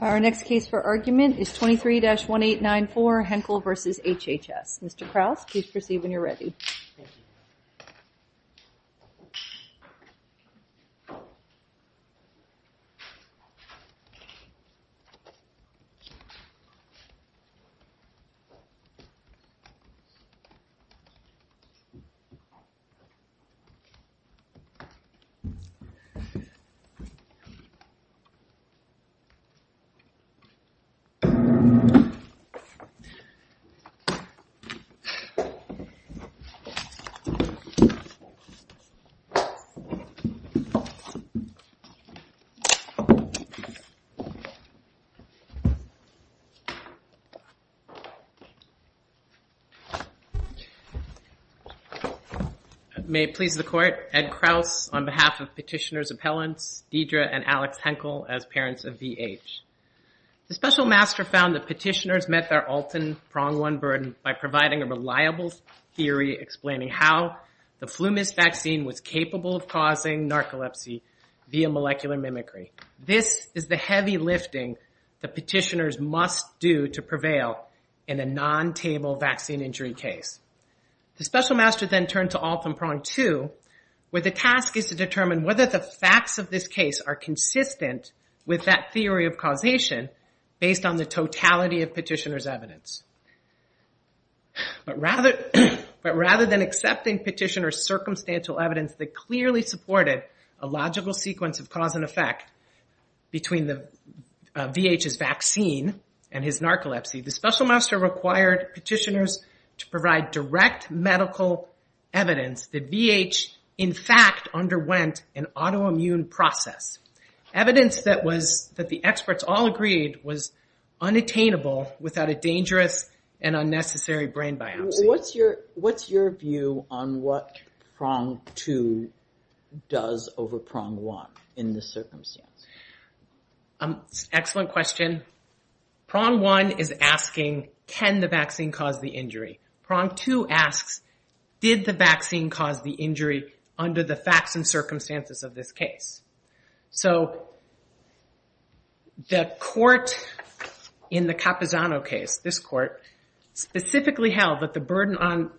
Our next case for argument is 23-1894 Henkel v. HHS. Mr. Krause, please proceed when you're ready. May it please the Court, Ed Krause on behalf of Petitioner's Appellants Deidre and Alex Henkel as parents of v. H. The Special Master found that Petitioner's met their Alton Prong I burden by providing a reliable theory explaining how the Flumis vaccine was capable of causing narcolepsy via molecular mimicry. This is the heavy lifting that Petitioner's must do to prevail in a non-table vaccine injury case. The Special Master then turned to Alton Prong II, where the task is to determine whether the facts of this case are consistent with that theory of causation based on the totality of Petitioner's evidence. But rather than accepting Petitioner's circumstantial evidence that clearly supported a logical sequence of cause and effect between v. H.'s vaccine and his narcolepsy, the Special Master required Petitioner's to provide direct medical evidence that v. H. in fact underwent an autoimmune process. Evidence that the experts all agreed was unattainable without a dangerous and unnecessary brain biopsy. What's your view on what Prong II does over Prong I in this circumstance? Excellent question. Prong I is asking can the vaccine cause the injury. Prong II asks did the vaccine cause the injury under the facts and circumstances of this case. So the court in the Capizzano case, this court, specifically held that the burden on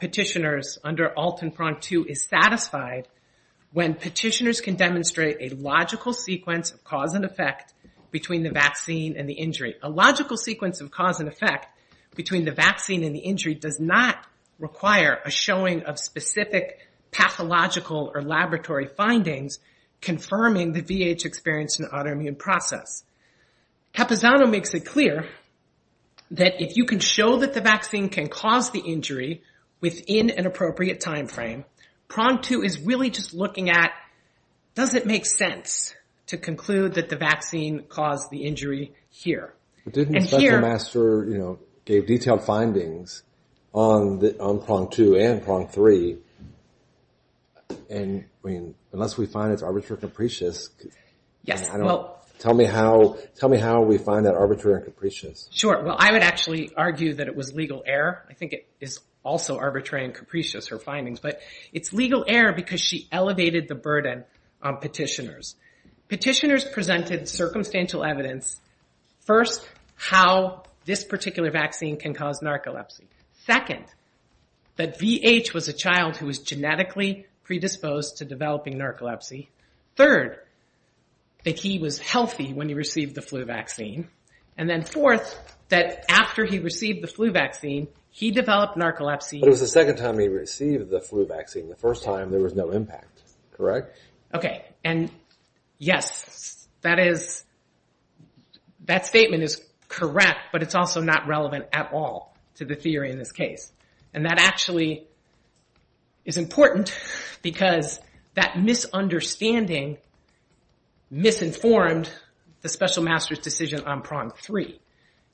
Petitioner's under Alton Prong II is satisfied when Petitioner's can demonstrate a logical sequence of cause and effect between the vaccine and the injury. A logical sequence of cause and effect between the vaccine and the injury does not require a showing of specific pathological or laboratory findings confirming the v. H. experience in the autoimmune process. Capizzano makes it clear that if you can show that the vaccine can cause the injury within an appropriate time frame, Prong II is really just looking at does it make sense to conclude that the vaccine caused the injury here. But didn't the special master give detailed findings on Prong II and Prong III? And unless we find it's arbitrary and capricious, tell me how we find that arbitrary and capricious. Sure. Well, I would actually argue that it was legal error. I think it is also arbitrary and capricious, her findings, but it's legal error because she elevated the burden on Petitioner's. Petitioner's presented circumstantial evidence. First, how this particular vaccine can cause narcolepsy. Second, that v. H. was a child who was genetically predisposed to developing narcolepsy. Third, that he was healthy when he received the flu vaccine. And then fourth, that after he received the flu vaccine, he developed narcolepsy. But it was the second time he received the flu vaccine. The first time there was no impact, correct? Correct. Okay. And yes, that statement is correct, but it's also not relevant at all to the theory in this case. And that actually is important because that misunderstanding misinformed the special master's decision on Prong III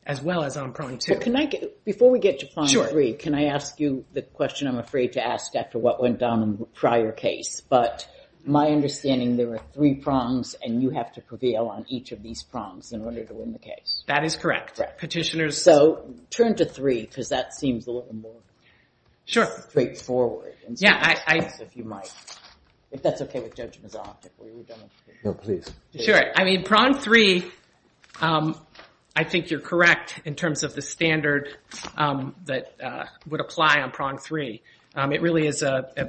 as well as on Prong II. Before we get to Prong III, can I ask you the question I'm afraid to ask after what went down in the prior case? But my understanding, there were three prongs, and you have to prevail on each of these prongs in order to win the case. That is correct. Correct. Petitioner's— So turn to III because that seems a little more straightforward. Yeah, I— If you might. If that's okay with Judge Mazoff, if we would demonstrate. No, please. Sure. I mean, Prong III, I think you're correct in terms of the standard that would apply on Prong III. It really is an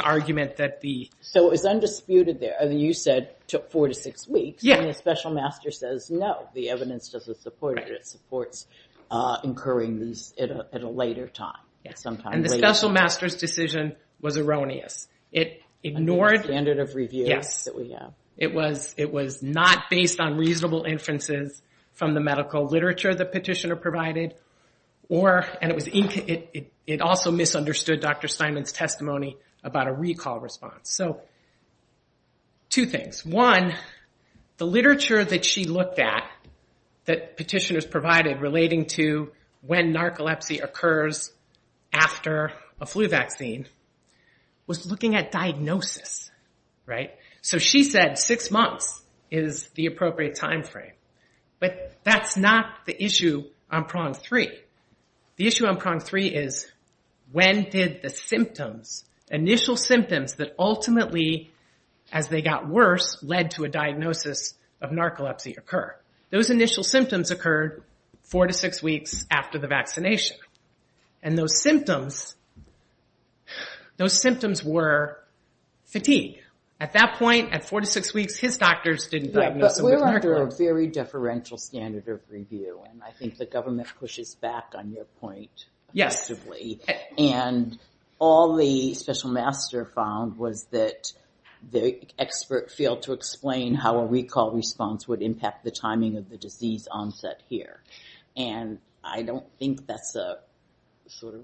argument that the— So it's undisputed there. You said four to six weeks. Yeah. And the special master says, no, the evidence doesn't support it. It supports incurring these at a later time, sometime later. And the special master's decision was erroneous. It ignored— The standard of review that we have. It was not based on reasonable inferences from the medical literature the petitioner provided, or—and it was—it also misunderstood Dr. Steinman's testimony about a recall response. So two things. One, the literature that she looked at that petitioners provided relating to when narcolepsy occurs after a flu vaccine was looking at diagnosis, right? So she said six months is the appropriate time frame. But that's not the issue on Prong III. The issue on Prong III is when did the symptoms, initial symptoms that ultimately, as they got worse, led to a diagnosis of narcolepsy occur? Those initial symptoms occurred four to six weeks after the vaccination. And those symptoms—those symptoms were fatigue. At that point, at four to six weeks, his doctors didn't diagnose him with narcolepsy. We're under a very deferential standard of review, and I think the government pushes back on your point. Yes. And all the special master found was that the expert failed to explain how a recall response would impact the timing of the disease onset here. And I don't think that's a sort of,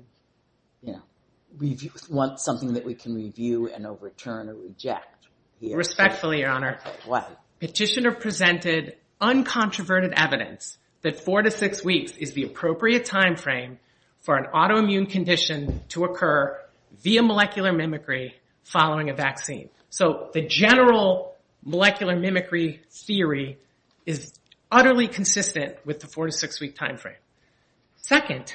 you know—we want something that we can review and overturn or reject here. Respectfully, Your Honor. What? Petitioner presented uncontroverted evidence that four to six weeks is the appropriate time frame for an autoimmune condition to occur via molecular mimicry following a vaccine. So the general molecular mimicry theory is utterly consistent with the four to six-week time frame. Second—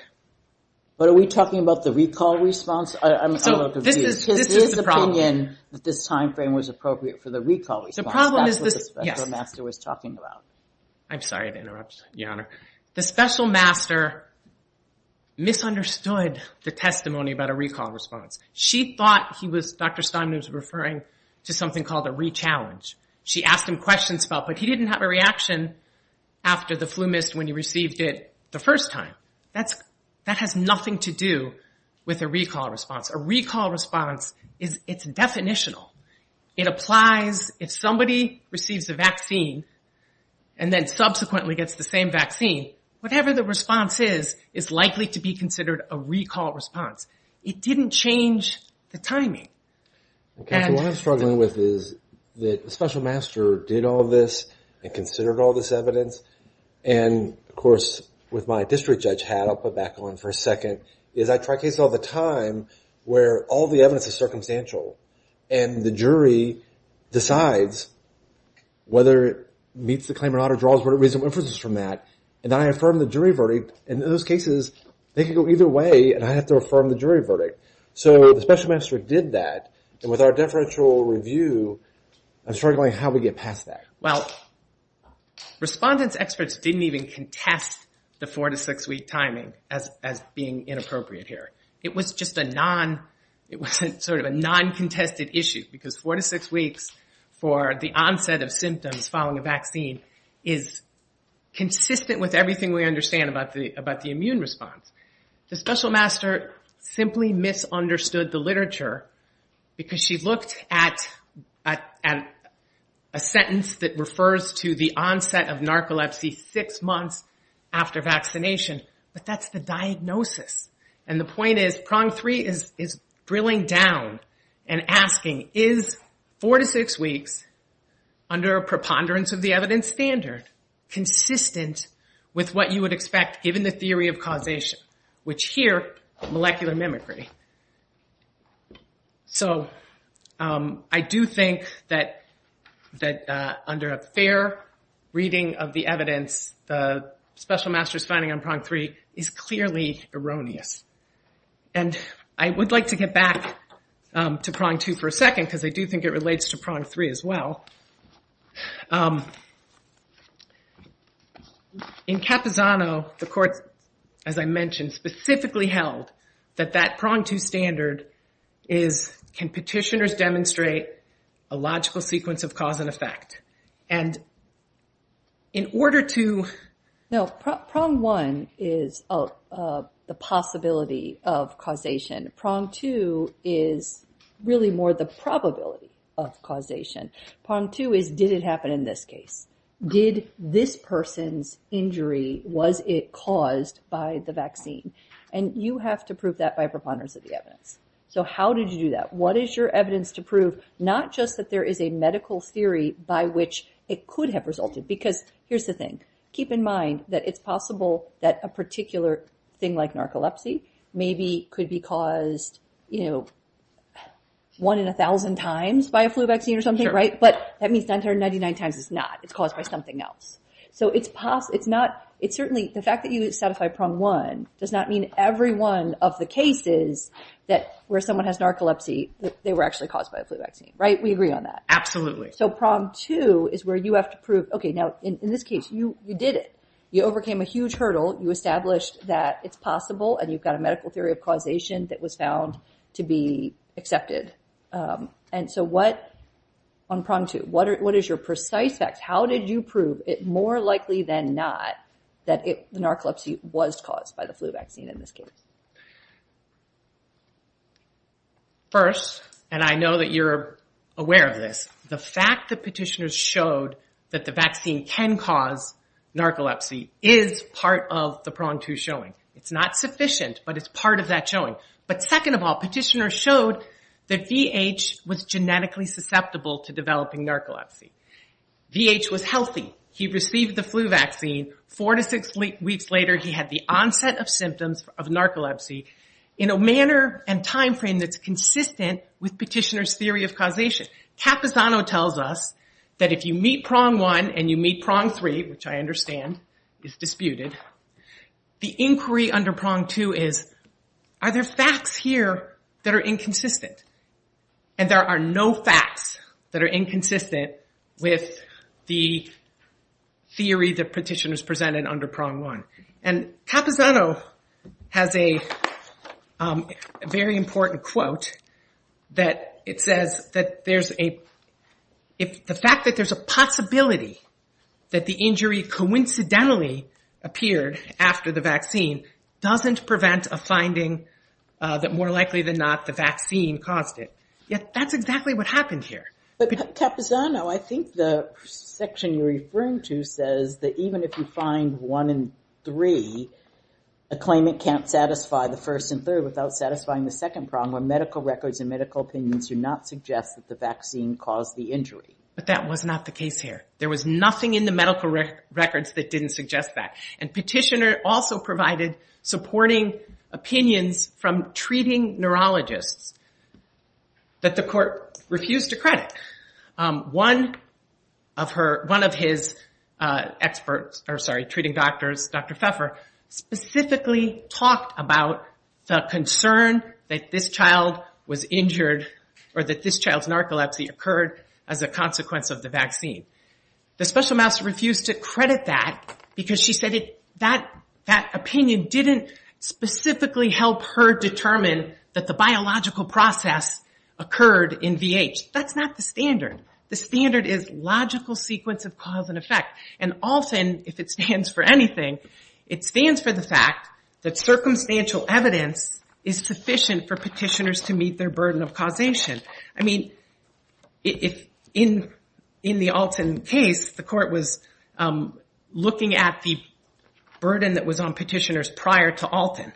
But are we talking about the recall response? I'm talking about the review. This is the problem. His opinion that this time frame was appropriate for the recall response. That's what the special master was talking about. I'm sorry to interrupt, Your Honor. The special master misunderstood the testimony about a recall response. She thought he was—Dr. Steinman was referring to something called a re-challenge. She asked him questions about it, but he didn't have a reaction after the flu mist when he received it the first time. That has nothing to do with a recall response. A recall response is—it's definitional. It applies if somebody receives a vaccine and then subsequently gets the same vaccine, whatever the response is, is likely to be considered a recall response. It didn't change the timing. Okay. So what I'm struggling with is that the special master did all this and considered all this evidence. And, of course, with my district judge hat, I'll put back on for a second, is I try cases all the time where all the evidence is circumstantial. And the jury decides whether it meets the claim or not or draws whatever reasonable inferences from that. And then I affirm the jury verdict. And in those cases, they can go either way, and I have to affirm the jury verdict. So the special master did that. And with our deferential review, I'm struggling how we get past that. Well, respondent's experts didn't even contest the four- to six-week timing as being inappropriate here. It was just a non—it was sort of a non-contested issue because four- to six-weeks for the onset of symptoms following a vaccine is consistent with everything we understand about the immune response. The special master simply misunderstood the literature because she looked at a sentence that refers to the onset of narcolepsy six months after vaccination, but that's the diagnosis. And the point is, prong three is drilling down and asking, is four- to six-weeks under a preponderance of the evidence standard consistent with what you would expect given the theory of causation, which here, molecular mimicry. So I do think that under a fair reading of the evidence, the special master's finding on prong three is clearly erroneous. And I would like to get back to prong two for a second because I do think it relates to prong three as well. In Capizano, the court, as I mentioned, specifically held that that prong two standard is, can petitioners demonstrate a logical sequence of cause and effect? And in order to— No, prong one is the possibility of causation. Prong two is really more the probability of causation. Prong two is, did it happen in this case? Did this person's injury, was it caused by the vaccine? And you have to prove that by preponderance of the evidence. So how did you do that? What is your evidence to prove not just that there is a medical theory by which it could have resulted? Because here's the thing. Keep in mind that it's possible that a particular thing like narcolepsy maybe could be caused, you know, one in a thousand times by a flu vaccine or something, right? But that means 999 times it's not. It's caused by something else. So it's not—it's certainly—the fact that you satisfy prong one does not mean every one of the cases that where someone has narcolepsy, they were actually caused by a flu vaccine, right? We agree on that. Absolutely. So prong two is where you have to prove, okay, now, in this case, you did it. You overcame a huge hurdle. You established that it's possible and you've got a medical theory of causation that was found to be accepted. And so what—on prong two, what is your precise facts? How did you prove it more likely than not that narcolepsy was caused by the flu vaccine in this case? First, and I know that you're aware of this, the fact that petitioners showed that the vaccine can cause narcolepsy is part of the prong two showing. It's not sufficient, but it's part of that showing. But second of all, petitioners showed that VH was genetically susceptible to developing narcolepsy. VH was healthy. He received the flu vaccine. Four to six weeks later, he had the onset of symptoms of narcolepsy in a manner and time frame that's consistent with petitioner's theory of causation. Capisano tells us that if you meet prong one and you meet prong three, which I understand is disputed, the inquiry under prong two is, are there facts here that are inconsistent? And there are no facts that are inconsistent with the theory that petitioners presented under prong one. And Capisano has a very important quote that it says that the fact that there's a possibility that the injury coincidentally appeared after the vaccine doesn't prevent a finding that more likely than not the vaccine caused it. That's exactly what happened here. But Capisano, I think the section you're referring to says that even if you find one in three, a claimant can't satisfy the first and third without satisfying the second prong where medical records and medical opinions do not suggest that the vaccine caused the injury. But that was not the case here. There was nothing in the medical records that didn't suggest that. And petitioner also provided supporting opinions from treating neurologists that the court refused to credit. One of her, one of his experts, or sorry, treating doctors, Dr. Pfeffer, specifically talked about the concern that this child was injured or that this child's narcolepsy occurred as a consequence of the vaccine. The special master refused to credit that because she said that opinion didn't specifically help her determine that the biological process occurred in VH. That's not the standard. The standard is logical sequence of cause and effect. And ALTIN, if it stands for anything, it stands for the fact that circumstantial evidence is sufficient for petitioners to meet their burden of causation. I mean, in the ALTIN case, the court was looking at the burden that was on petitioners prior to ALTIN.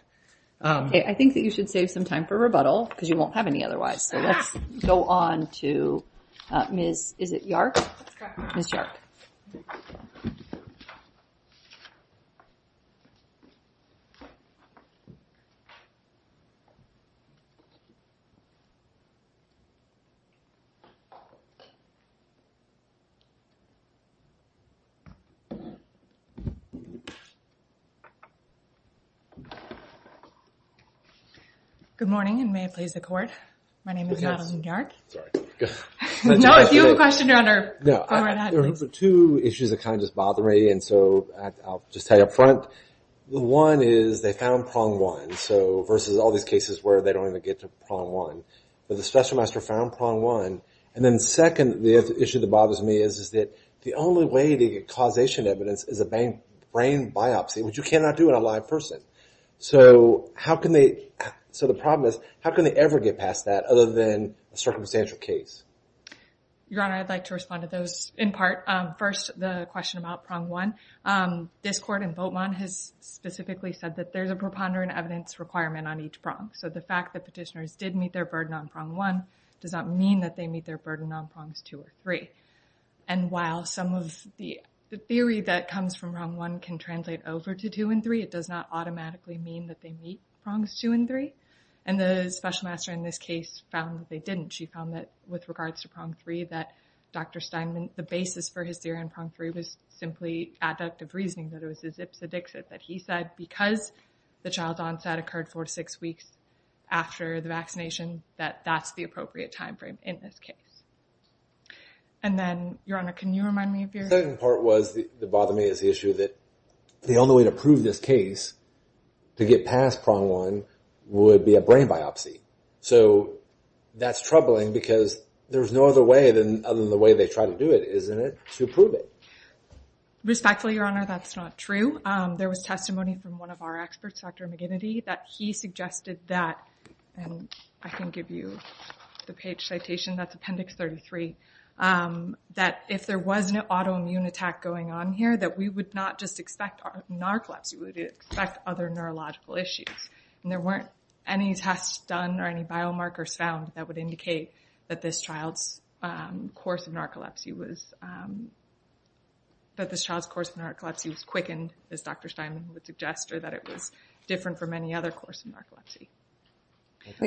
I think that you should save some time for rebuttal because you won't have any otherwise. So let's go on to Ms. is it Yark? Ms. Yark. Good morning. And may it please the court. My name is Madeline Yark. Sorry. No, if you have a question, you're under, go right ahead. There are two issues that kind of just bother me. And so I'll just tell you up front. One is they found prong one. So versus all these cases where they don't even get to prong one. But the special master found prong one. And then second, the issue that bothers me is that the only way to get causation evidence is a brain biopsy, which you cannot do in a live person. So how can they? So the problem is, how can they ever get past that other than a circumstantial case? Your Honor, I'd like to respond to those in part. First, the question about prong one. This court in Votemont has specifically said that there's a preponderant evidence requirement on each prong. So the fact that petitioners did meet their burden on prong one does not mean that they meet their burden on prongs two or three. And while some of the theory that comes from prong one can translate over to two and three, it does not automatically mean that they meet prongs two and three. And the special master in this case found that they didn't. She found that with regards to prong three, that Dr. Steinman, the basis for his theory on prong three was simply adductive reasoning. That it was a zipsed dixit. That he said because the child's onset occurred four to six weeks after the vaccination, that that's the appropriate timeframe in this case. And then, Your Honor, can you remind me of your... The second part was, that bothered me, is the issue that the only way to prove this case to get past prong one would be a brain biopsy. So that's troubling because there's no other way than, other than the way they try to do it, isn't it, to prove it? Respectfully, Your Honor, that's not true. There was testimony from one of our experts, Dr. McGinnity, that he suggested that, and I can give you the page citation. That's appendix 33. That if there was an autoimmune attack going on here, that we would not just expect narcolepsy. We would expect other neurological issues. And there weren't any tests done or any biomarkers found that would indicate that this child's course of narcolepsy was quickened, as Dr. Steinman would suggest. Or that it was different from any other course of narcolepsy.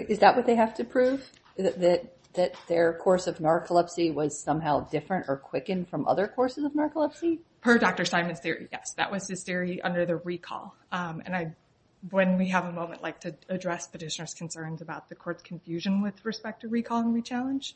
Is that what they have to prove? That their course of narcolepsy was somehow different or quickened from other courses of narcolepsy? Per Dr. Steinman's theory, yes. That was his theory under the recall. And I, when we have a moment, like to address petitioner's concerns about the court's confusion with respect to recall and rechallenge.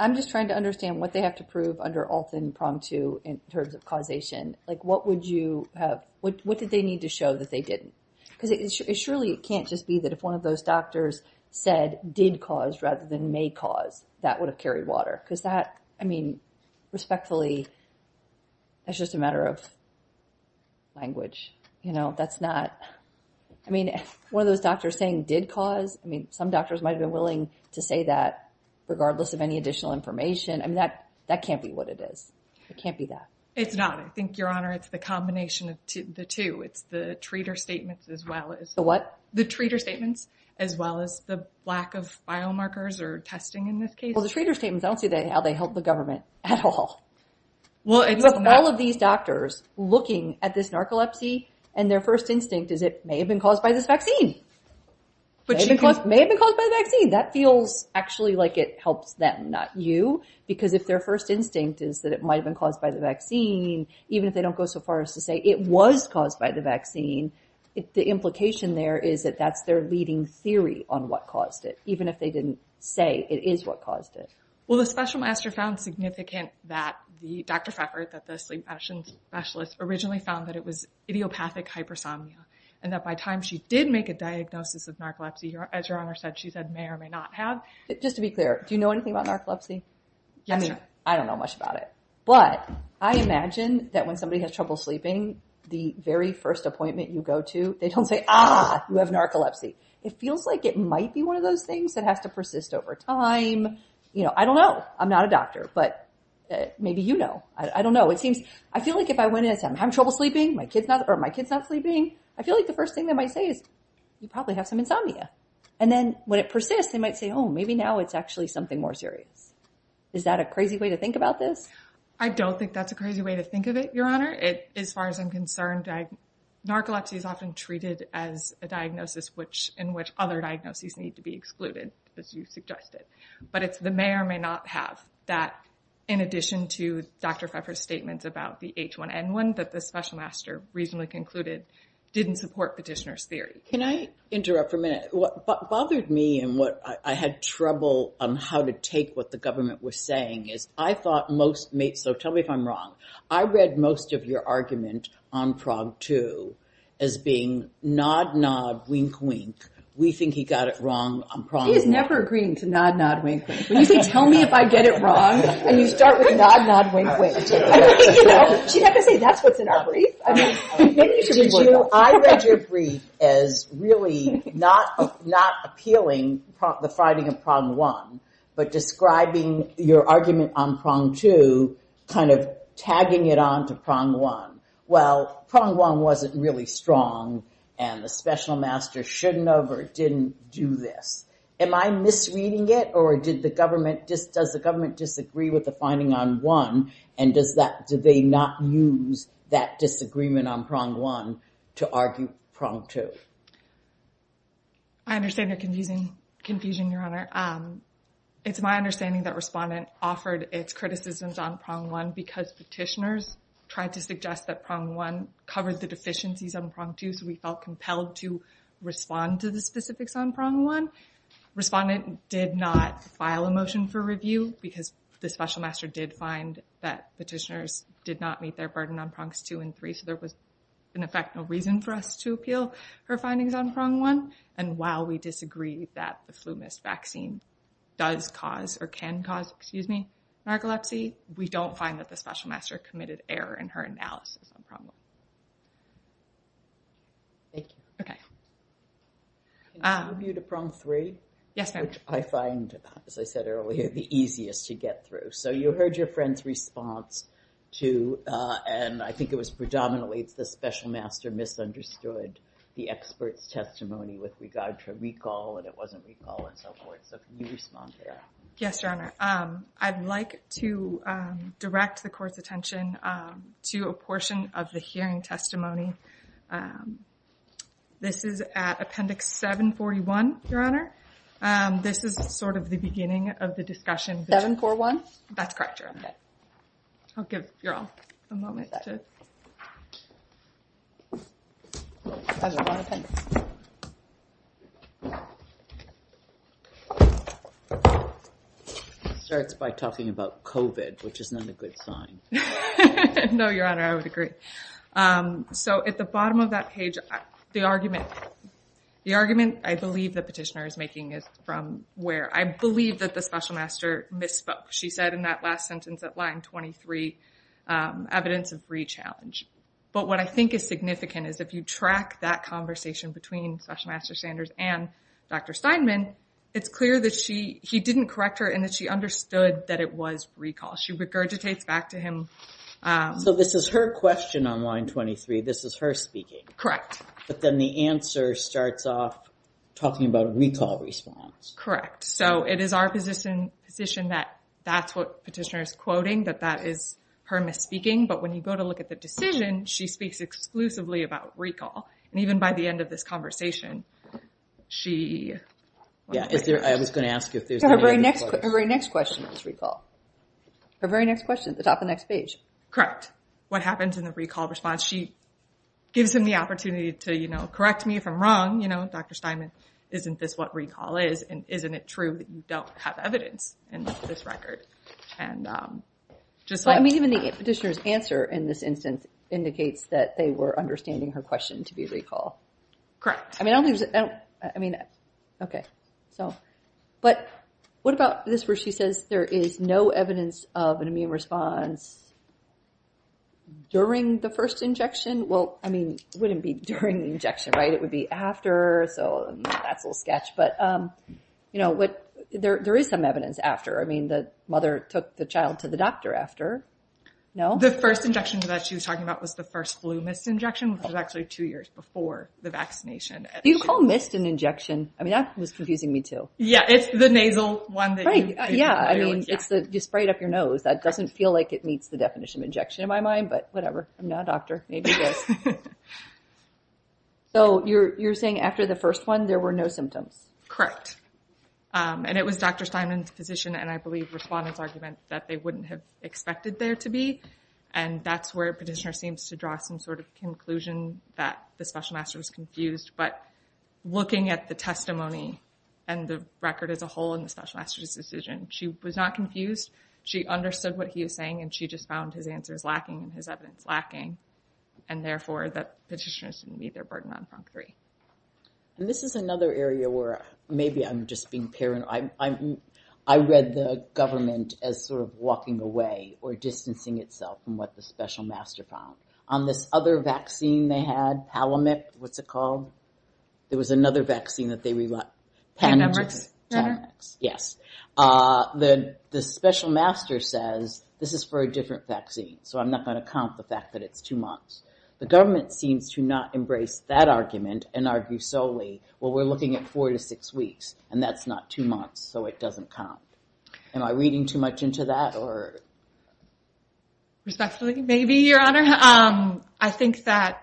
I'm just trying to understand what they have to prove under Alton prong two in terms of causation. Like, what would you have... What did they need to show that they didn't? Because it surely can't just be that if one of those doctors said did cause rather than may cause, that would have carried water. Because that, I mean, respectfully, that's just a matter of language. You know, that's not... I mean, one of those doctors saying did cause, I mean, some doctors might have been willing to say that regardless of any additional information. I mean, that can't be what it is. It can't be that. It's not. I think, Your Honor, it's the combination of the two. It's the treater statements as well as... The what? The treater statements as well as the lack of biomarkers or testing in this case. Well, the treater statements, I don't see how they help the government at all. Well, it's not... With all of these doctors looking at this narcolepsy and their first instinct is it may have been caused by this vaccine. May have been caused by the vaccine. That feels actually like it helps them, not you. Because if their first instinct is that it might have been caused by the vaccine, even if they don't go so far as to say it was caused by the vaccine, the implication there is that that's their leading theory on what caused it, even if they didn't say it is what caused it. Well, the special master found significant that the... Dr. Freckert, that the sleep addiction specialist, originally found that it was idiopathic hypersomnia and that by time she did make a diagnosis of narcolepsy, as Your Honor said, she said may or may not have. Just to be clear, do you know anything about narcolepsy? Yes, Your Honor. I mean, I don't know much about it. But I imagine that when somebody has trouble sleeping, the very first appointment you go to, they don't say, ah, you have narcolepsy. It feels like it might be one of those things that has to persist over time. You know, I don't know. I'm not a doctor, but maybe you know. I don't know. It seems... I feel like if I went in and said, I'm having trouble sleeping. My kid's not... Or my kid's not sleeping. I feel like the first thing they might say is, you probably have some insomnia. And then when it persists, they might say, oh, maybe now it's actually something more serious. Is that a crazy way to think about this? I don't think that's a crazy way to think of it, Your Honor. As far as I'm concerned, narcolepsy is often treated as a diagnosis which... in which other diagnoses need to be excluded, as you suggested. But it's the may or may not have that in addition to Dr. Pfeffer's statements about the H1N1 that the special master reasonably concluded didn't support petitioner's theory. Can I interrupt for a minute? What bothered me and what... I had trouble on how to take what the government was saying is I thought most... So tell me if I'm wrong. I read most of your argument on Prog 2 as being nod, nod, wink, wink. We think he got it wrong on Prog 2. She is never agreeing to nod, nod, wink, wink. When you say, tell me if I get it wrong, and you start with nod, nod, wink, wink. You know, she'd have to say, that's what's in our brief. I read your brief as really not appealing the finding of Prog 1, but describing your argument on Prog 2, kind of tagging it on to Prog 1. Well, Prog 1 wasn't really strong, and the special master shouldn't have or didn't do this. Am I misreading it, or did the government... Does the government disagree with the finding on 1, and do they not use that disagreement on Prog 1 to argue Prog 2? I understand your confusion, Your Honor. It's my understanding that Respondent offered its criticisms on Prog 1 because petitioners tried to suggest that Prog 1 covered the deficiencies on Prog 2, so we felt compelled to respond to the specifics on Prog 1. Respondent did not file a motion for review because the special master did find that petitioners did not meet their burden on Progs 2 and 3, so there was, in effect, no reason for us to appeal her findings on Prog 1. And while we disagree that the flu mask vaccine does cause or can cause narcolepsy, we don't find that the special master committed error in her analysis on Prog 1. Thank you. Okay. Can I move you to Prog 3? Yes, ma'am. Which I find, as I said earlier, the easiest to get through. So you heard your friend's response to, and I think it was predominantly, the special master misunderstood the expert's testimony with regard to recall, and it wasn't recall and so forth, so can you respond to that? Yes, Your Honor. I'd like to direct the Court's attention to a portion of the hearing testimony. This is at Appendix 741, Your Honor. This is sort of the beginning of the discussion. 741? That's correct, Your Honor. I'll give you all a moment to. Starts by talking about COVID, which is not a good sign. No, Your Honor, I would agree. So at the bottom of that page, the argument I believe the petitioner is making is from where? I believe that the special master misspoke. She said in that last sentence at line 23, evidence of re-challenge. But what I think is significant is if you track that conversation between special master Sanders and Dr. Steinman, it's clear that he didn't correct her and that she understood that it was recall. She regurgitates back to him. So this is her question on line 23. This is her speaking. But then the answer starts off talking about a recall response. So it is our position that that's what the petitioner is quoting, that that is her misspeaking. But when you go to look at the decision, she speaks exclusively about recall. And even by the end of this conversation, she... I was going to ask if there's any other questions. Her very next question was recall. Her very next question at the top of the next page. What happens in the recall response? She gives him the opportunity to correct me if I'm wrong. Dr. Steinman, isn't this what recall is? And isn't it true that you don't have evidence in this record? Even the petitioner's answer in this instance indicates that they were understanding her question to be recall. I mean, okay. But what about this where she says there is no evidence of an immune response during the first injection? Well, I mean, it wouldn't be during the injection, right? It would be after. So that's a little sketch. But, you know, there is some evidence after. I mean, the mother took the child to the doctor after. No? The first injection that she was talking about was the first flu misinjection, which was actually two years before the vaccination. Do you call mist an injection? I mean, that was confusing me, too. Yeah, it's the nasal one. Right, yeah. I mean, you spray it up your nose. That doesn't feel like it meets the definition of injection in my mind, but whatever. I'm not a doctor. Maybe it does. So you're saying after the first one, there were no symptoms? Correct. And it was Dr. Steinman's position and, I believe, respondent's argument that they wouldn't have expected there to be. And that's where Petitioner seems to draw some sort of conclusion that the special master was confused. But looking at the testimony and the record as a whole in the special master's decision, she was not confused. She understood what he was saying, and she just found his answers lacking and his evidence lacking. And, therefore, the petitioners didn't meet their burden on PRONC 3. And this is another area where maybe I'm just being paranoid. I read the government as sort of walking away or distancing itself from what the special master found. On this other vaccine they had, Palamec, what's it called? There was another vaccine that they rely on. Panamax? Panamax, yes. The special master says, this is for a different vaccine, so I'm not going to count the fact that it's two months. The government seems to not embrace that argument and argue solely, well, we're looking at four to six weeks, and that's not two months, so it doesn't count. Am I reading too much into that? Respectfully, maybe, Your Honor. I think that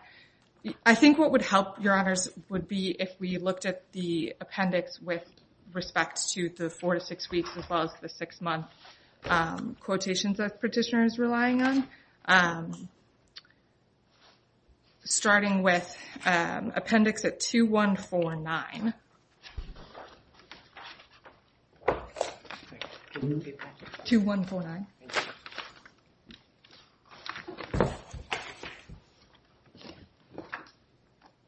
what would help, Your Honors, would be if we looked at the appendix with respect to the four to six weeks as well as the six-month quotations that Petitioner is relying on. Starting with appendix at 2149. 2149.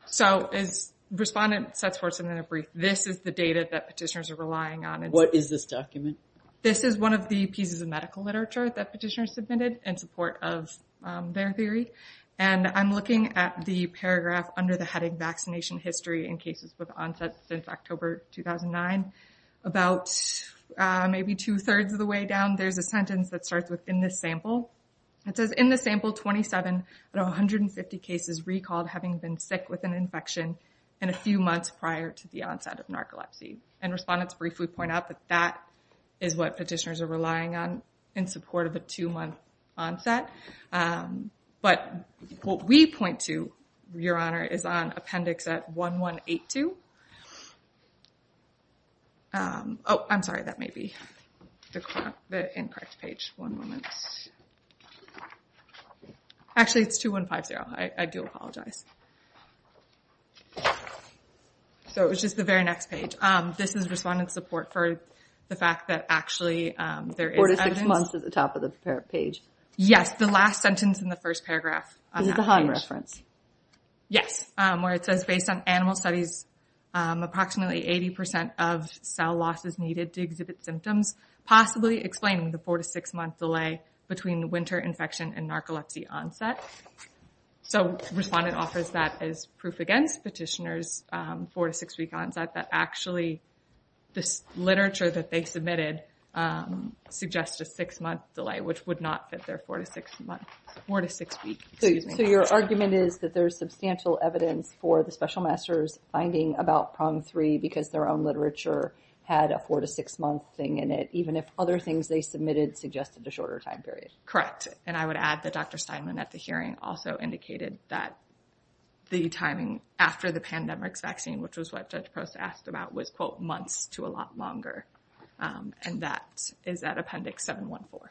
So as Respondent sets forth in a brief, this is the data that Petitioners are relying on. What is this document? This is one of the pieces of medical literature that Petitioner submitted in support of their theory. And I'm looking at the paragraph under the heading, vaccination history in cases with onset since October 2009. About maybe two-thirds of the way down, there's a sentence that starts with, in this sample. It says, in this sample, 27 out of 150 cases recalled having been sick with an infection in a few months prior to the onset of narcolepsy. And Respondents briefly point out that that is what Petitioners are relying on in support of a two-month onset. But what we point to, Your Honor, is on appendix at 1182. Oh, I'm sorry. That may be the incorrect page. One moment. Actually, it's 2150. I do apologize. So it was just the very next page. This is Respondent support for the fact that actually there is evidence. Four to six months is at the top of the page. Yes. The last sentence in the first paragraph. Is it the Hahn reference? Yes. Where it says, based on animal studies, approximately 80% of cell loss is needed to exhibit symptoms, possibly explaining the four- to six-month delay between winter infection and narcolepsy onset. So Respondent offers that as proof against Petitioner's four- to six-week onset, that actually this literature that they submitted suggests a six-month delay, which would not fit their four- to six-week onset. So your argument is that there is substantial evidence for the Special Master's finding about PROM3 because their own literature had a four- to six-month thing in it, even if other things they submitted suggested a shorter time period. Correct. And I would add that Dr. Steinman at the hearing also indicated that the time that Judge Proust asked about was, quote, months to a lot longer. And that is at Appendix 714.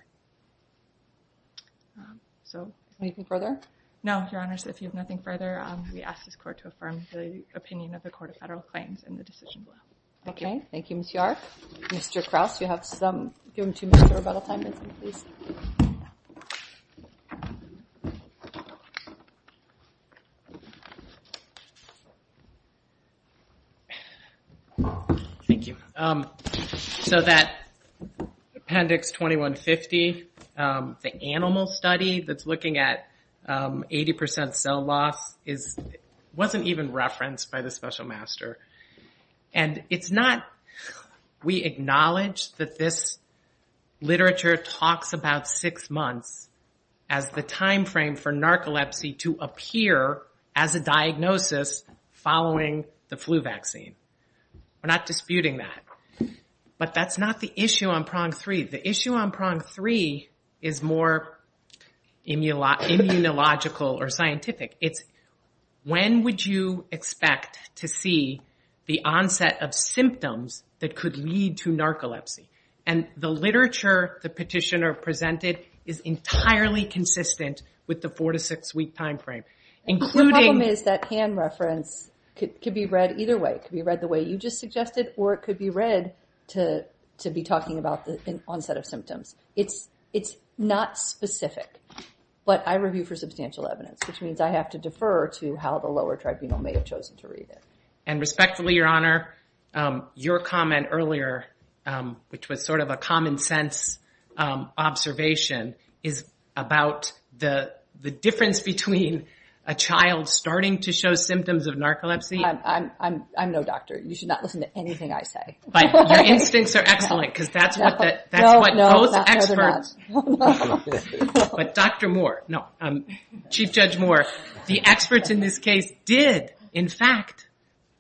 Anything further? No, Your Honor. So if you have nothing further, we ask this Court to affirm the opinion of the Court of Federal Claims in the decision. Okay. Thank you, Ms. Yark. Mr. Krauss, you have some, give him two minutes for rebuttal time, please. Thank you. So that Appendix 2150, the animal study that's looking at 80% cell loss, wasn't even referenced by the Special Master. And it's not, we acknowledge that this literature talks about six months as the timeframe for narcolepsy to appear as a diagnosis following the flu vaccine. We're not disputing that. But that's not the issue on Prong 3. The issue on Prong 3 is more immunological or scientific. It's when would you expect to see the onset of symptoms that could lead to narcolepsy. And the literature the petitioner presented is entirely consistent with the four- to six-week timeframe. The problem is that hand reference could be read either way. It could be read the way you just suggested, or it could be read to be talking about the onset of symptoms. It's not specific. But I review for substantial evidence, which means I have to defer to how the lower tribunal may have chosen to read it. And respectfully, Your Honor, your comment earlier, which was sort of a common sense observation, is about the difference between a child starting to show symptoms of narcolepsy. I'm no doctor. You should not listen to anything I say. But your instincts are excellent because that's what those experts. No, they're not. But Dr. Moore, no, Chief Judge Moore, the experts in this case did, in fact,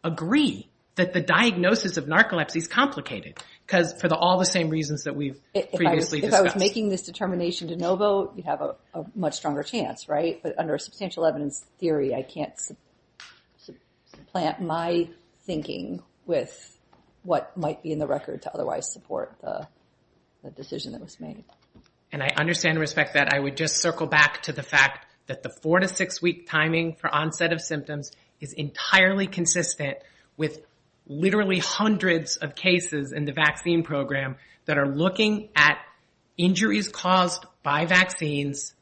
agree that the diagnosis of narcolepsy is complicated for all the same reasons that we've previously discussed. If I was making this determination to no vote, you'd have a much stronger chance, right? But under a substantial evidence theory, I can't supplant my thinking with what might be in the record to otherwise support the decision that was made. And I understand and respect that. I would just circle back to the fact that the four- to six-week timing for onset of symptoms is entirely consistent with literally hundreds of cases in the vaccine program that are looking at injuries caused by vaccines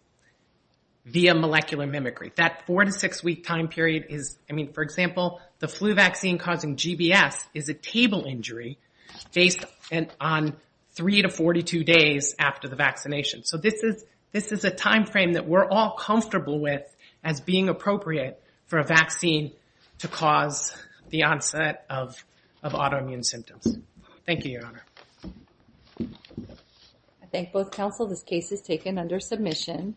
via molecular mimicry. That four- to six-week time period is, I mean, for example, the flu vaccine causing GBS is a table injury based on three to 42 days after the vaccination. So this is a timeframe that we're all comfortable with as being appropriate for a vaccine to cause the onset of autoimmune symptoms. Thank you, Your Honor. I thank both counsel. This case is taken under submission.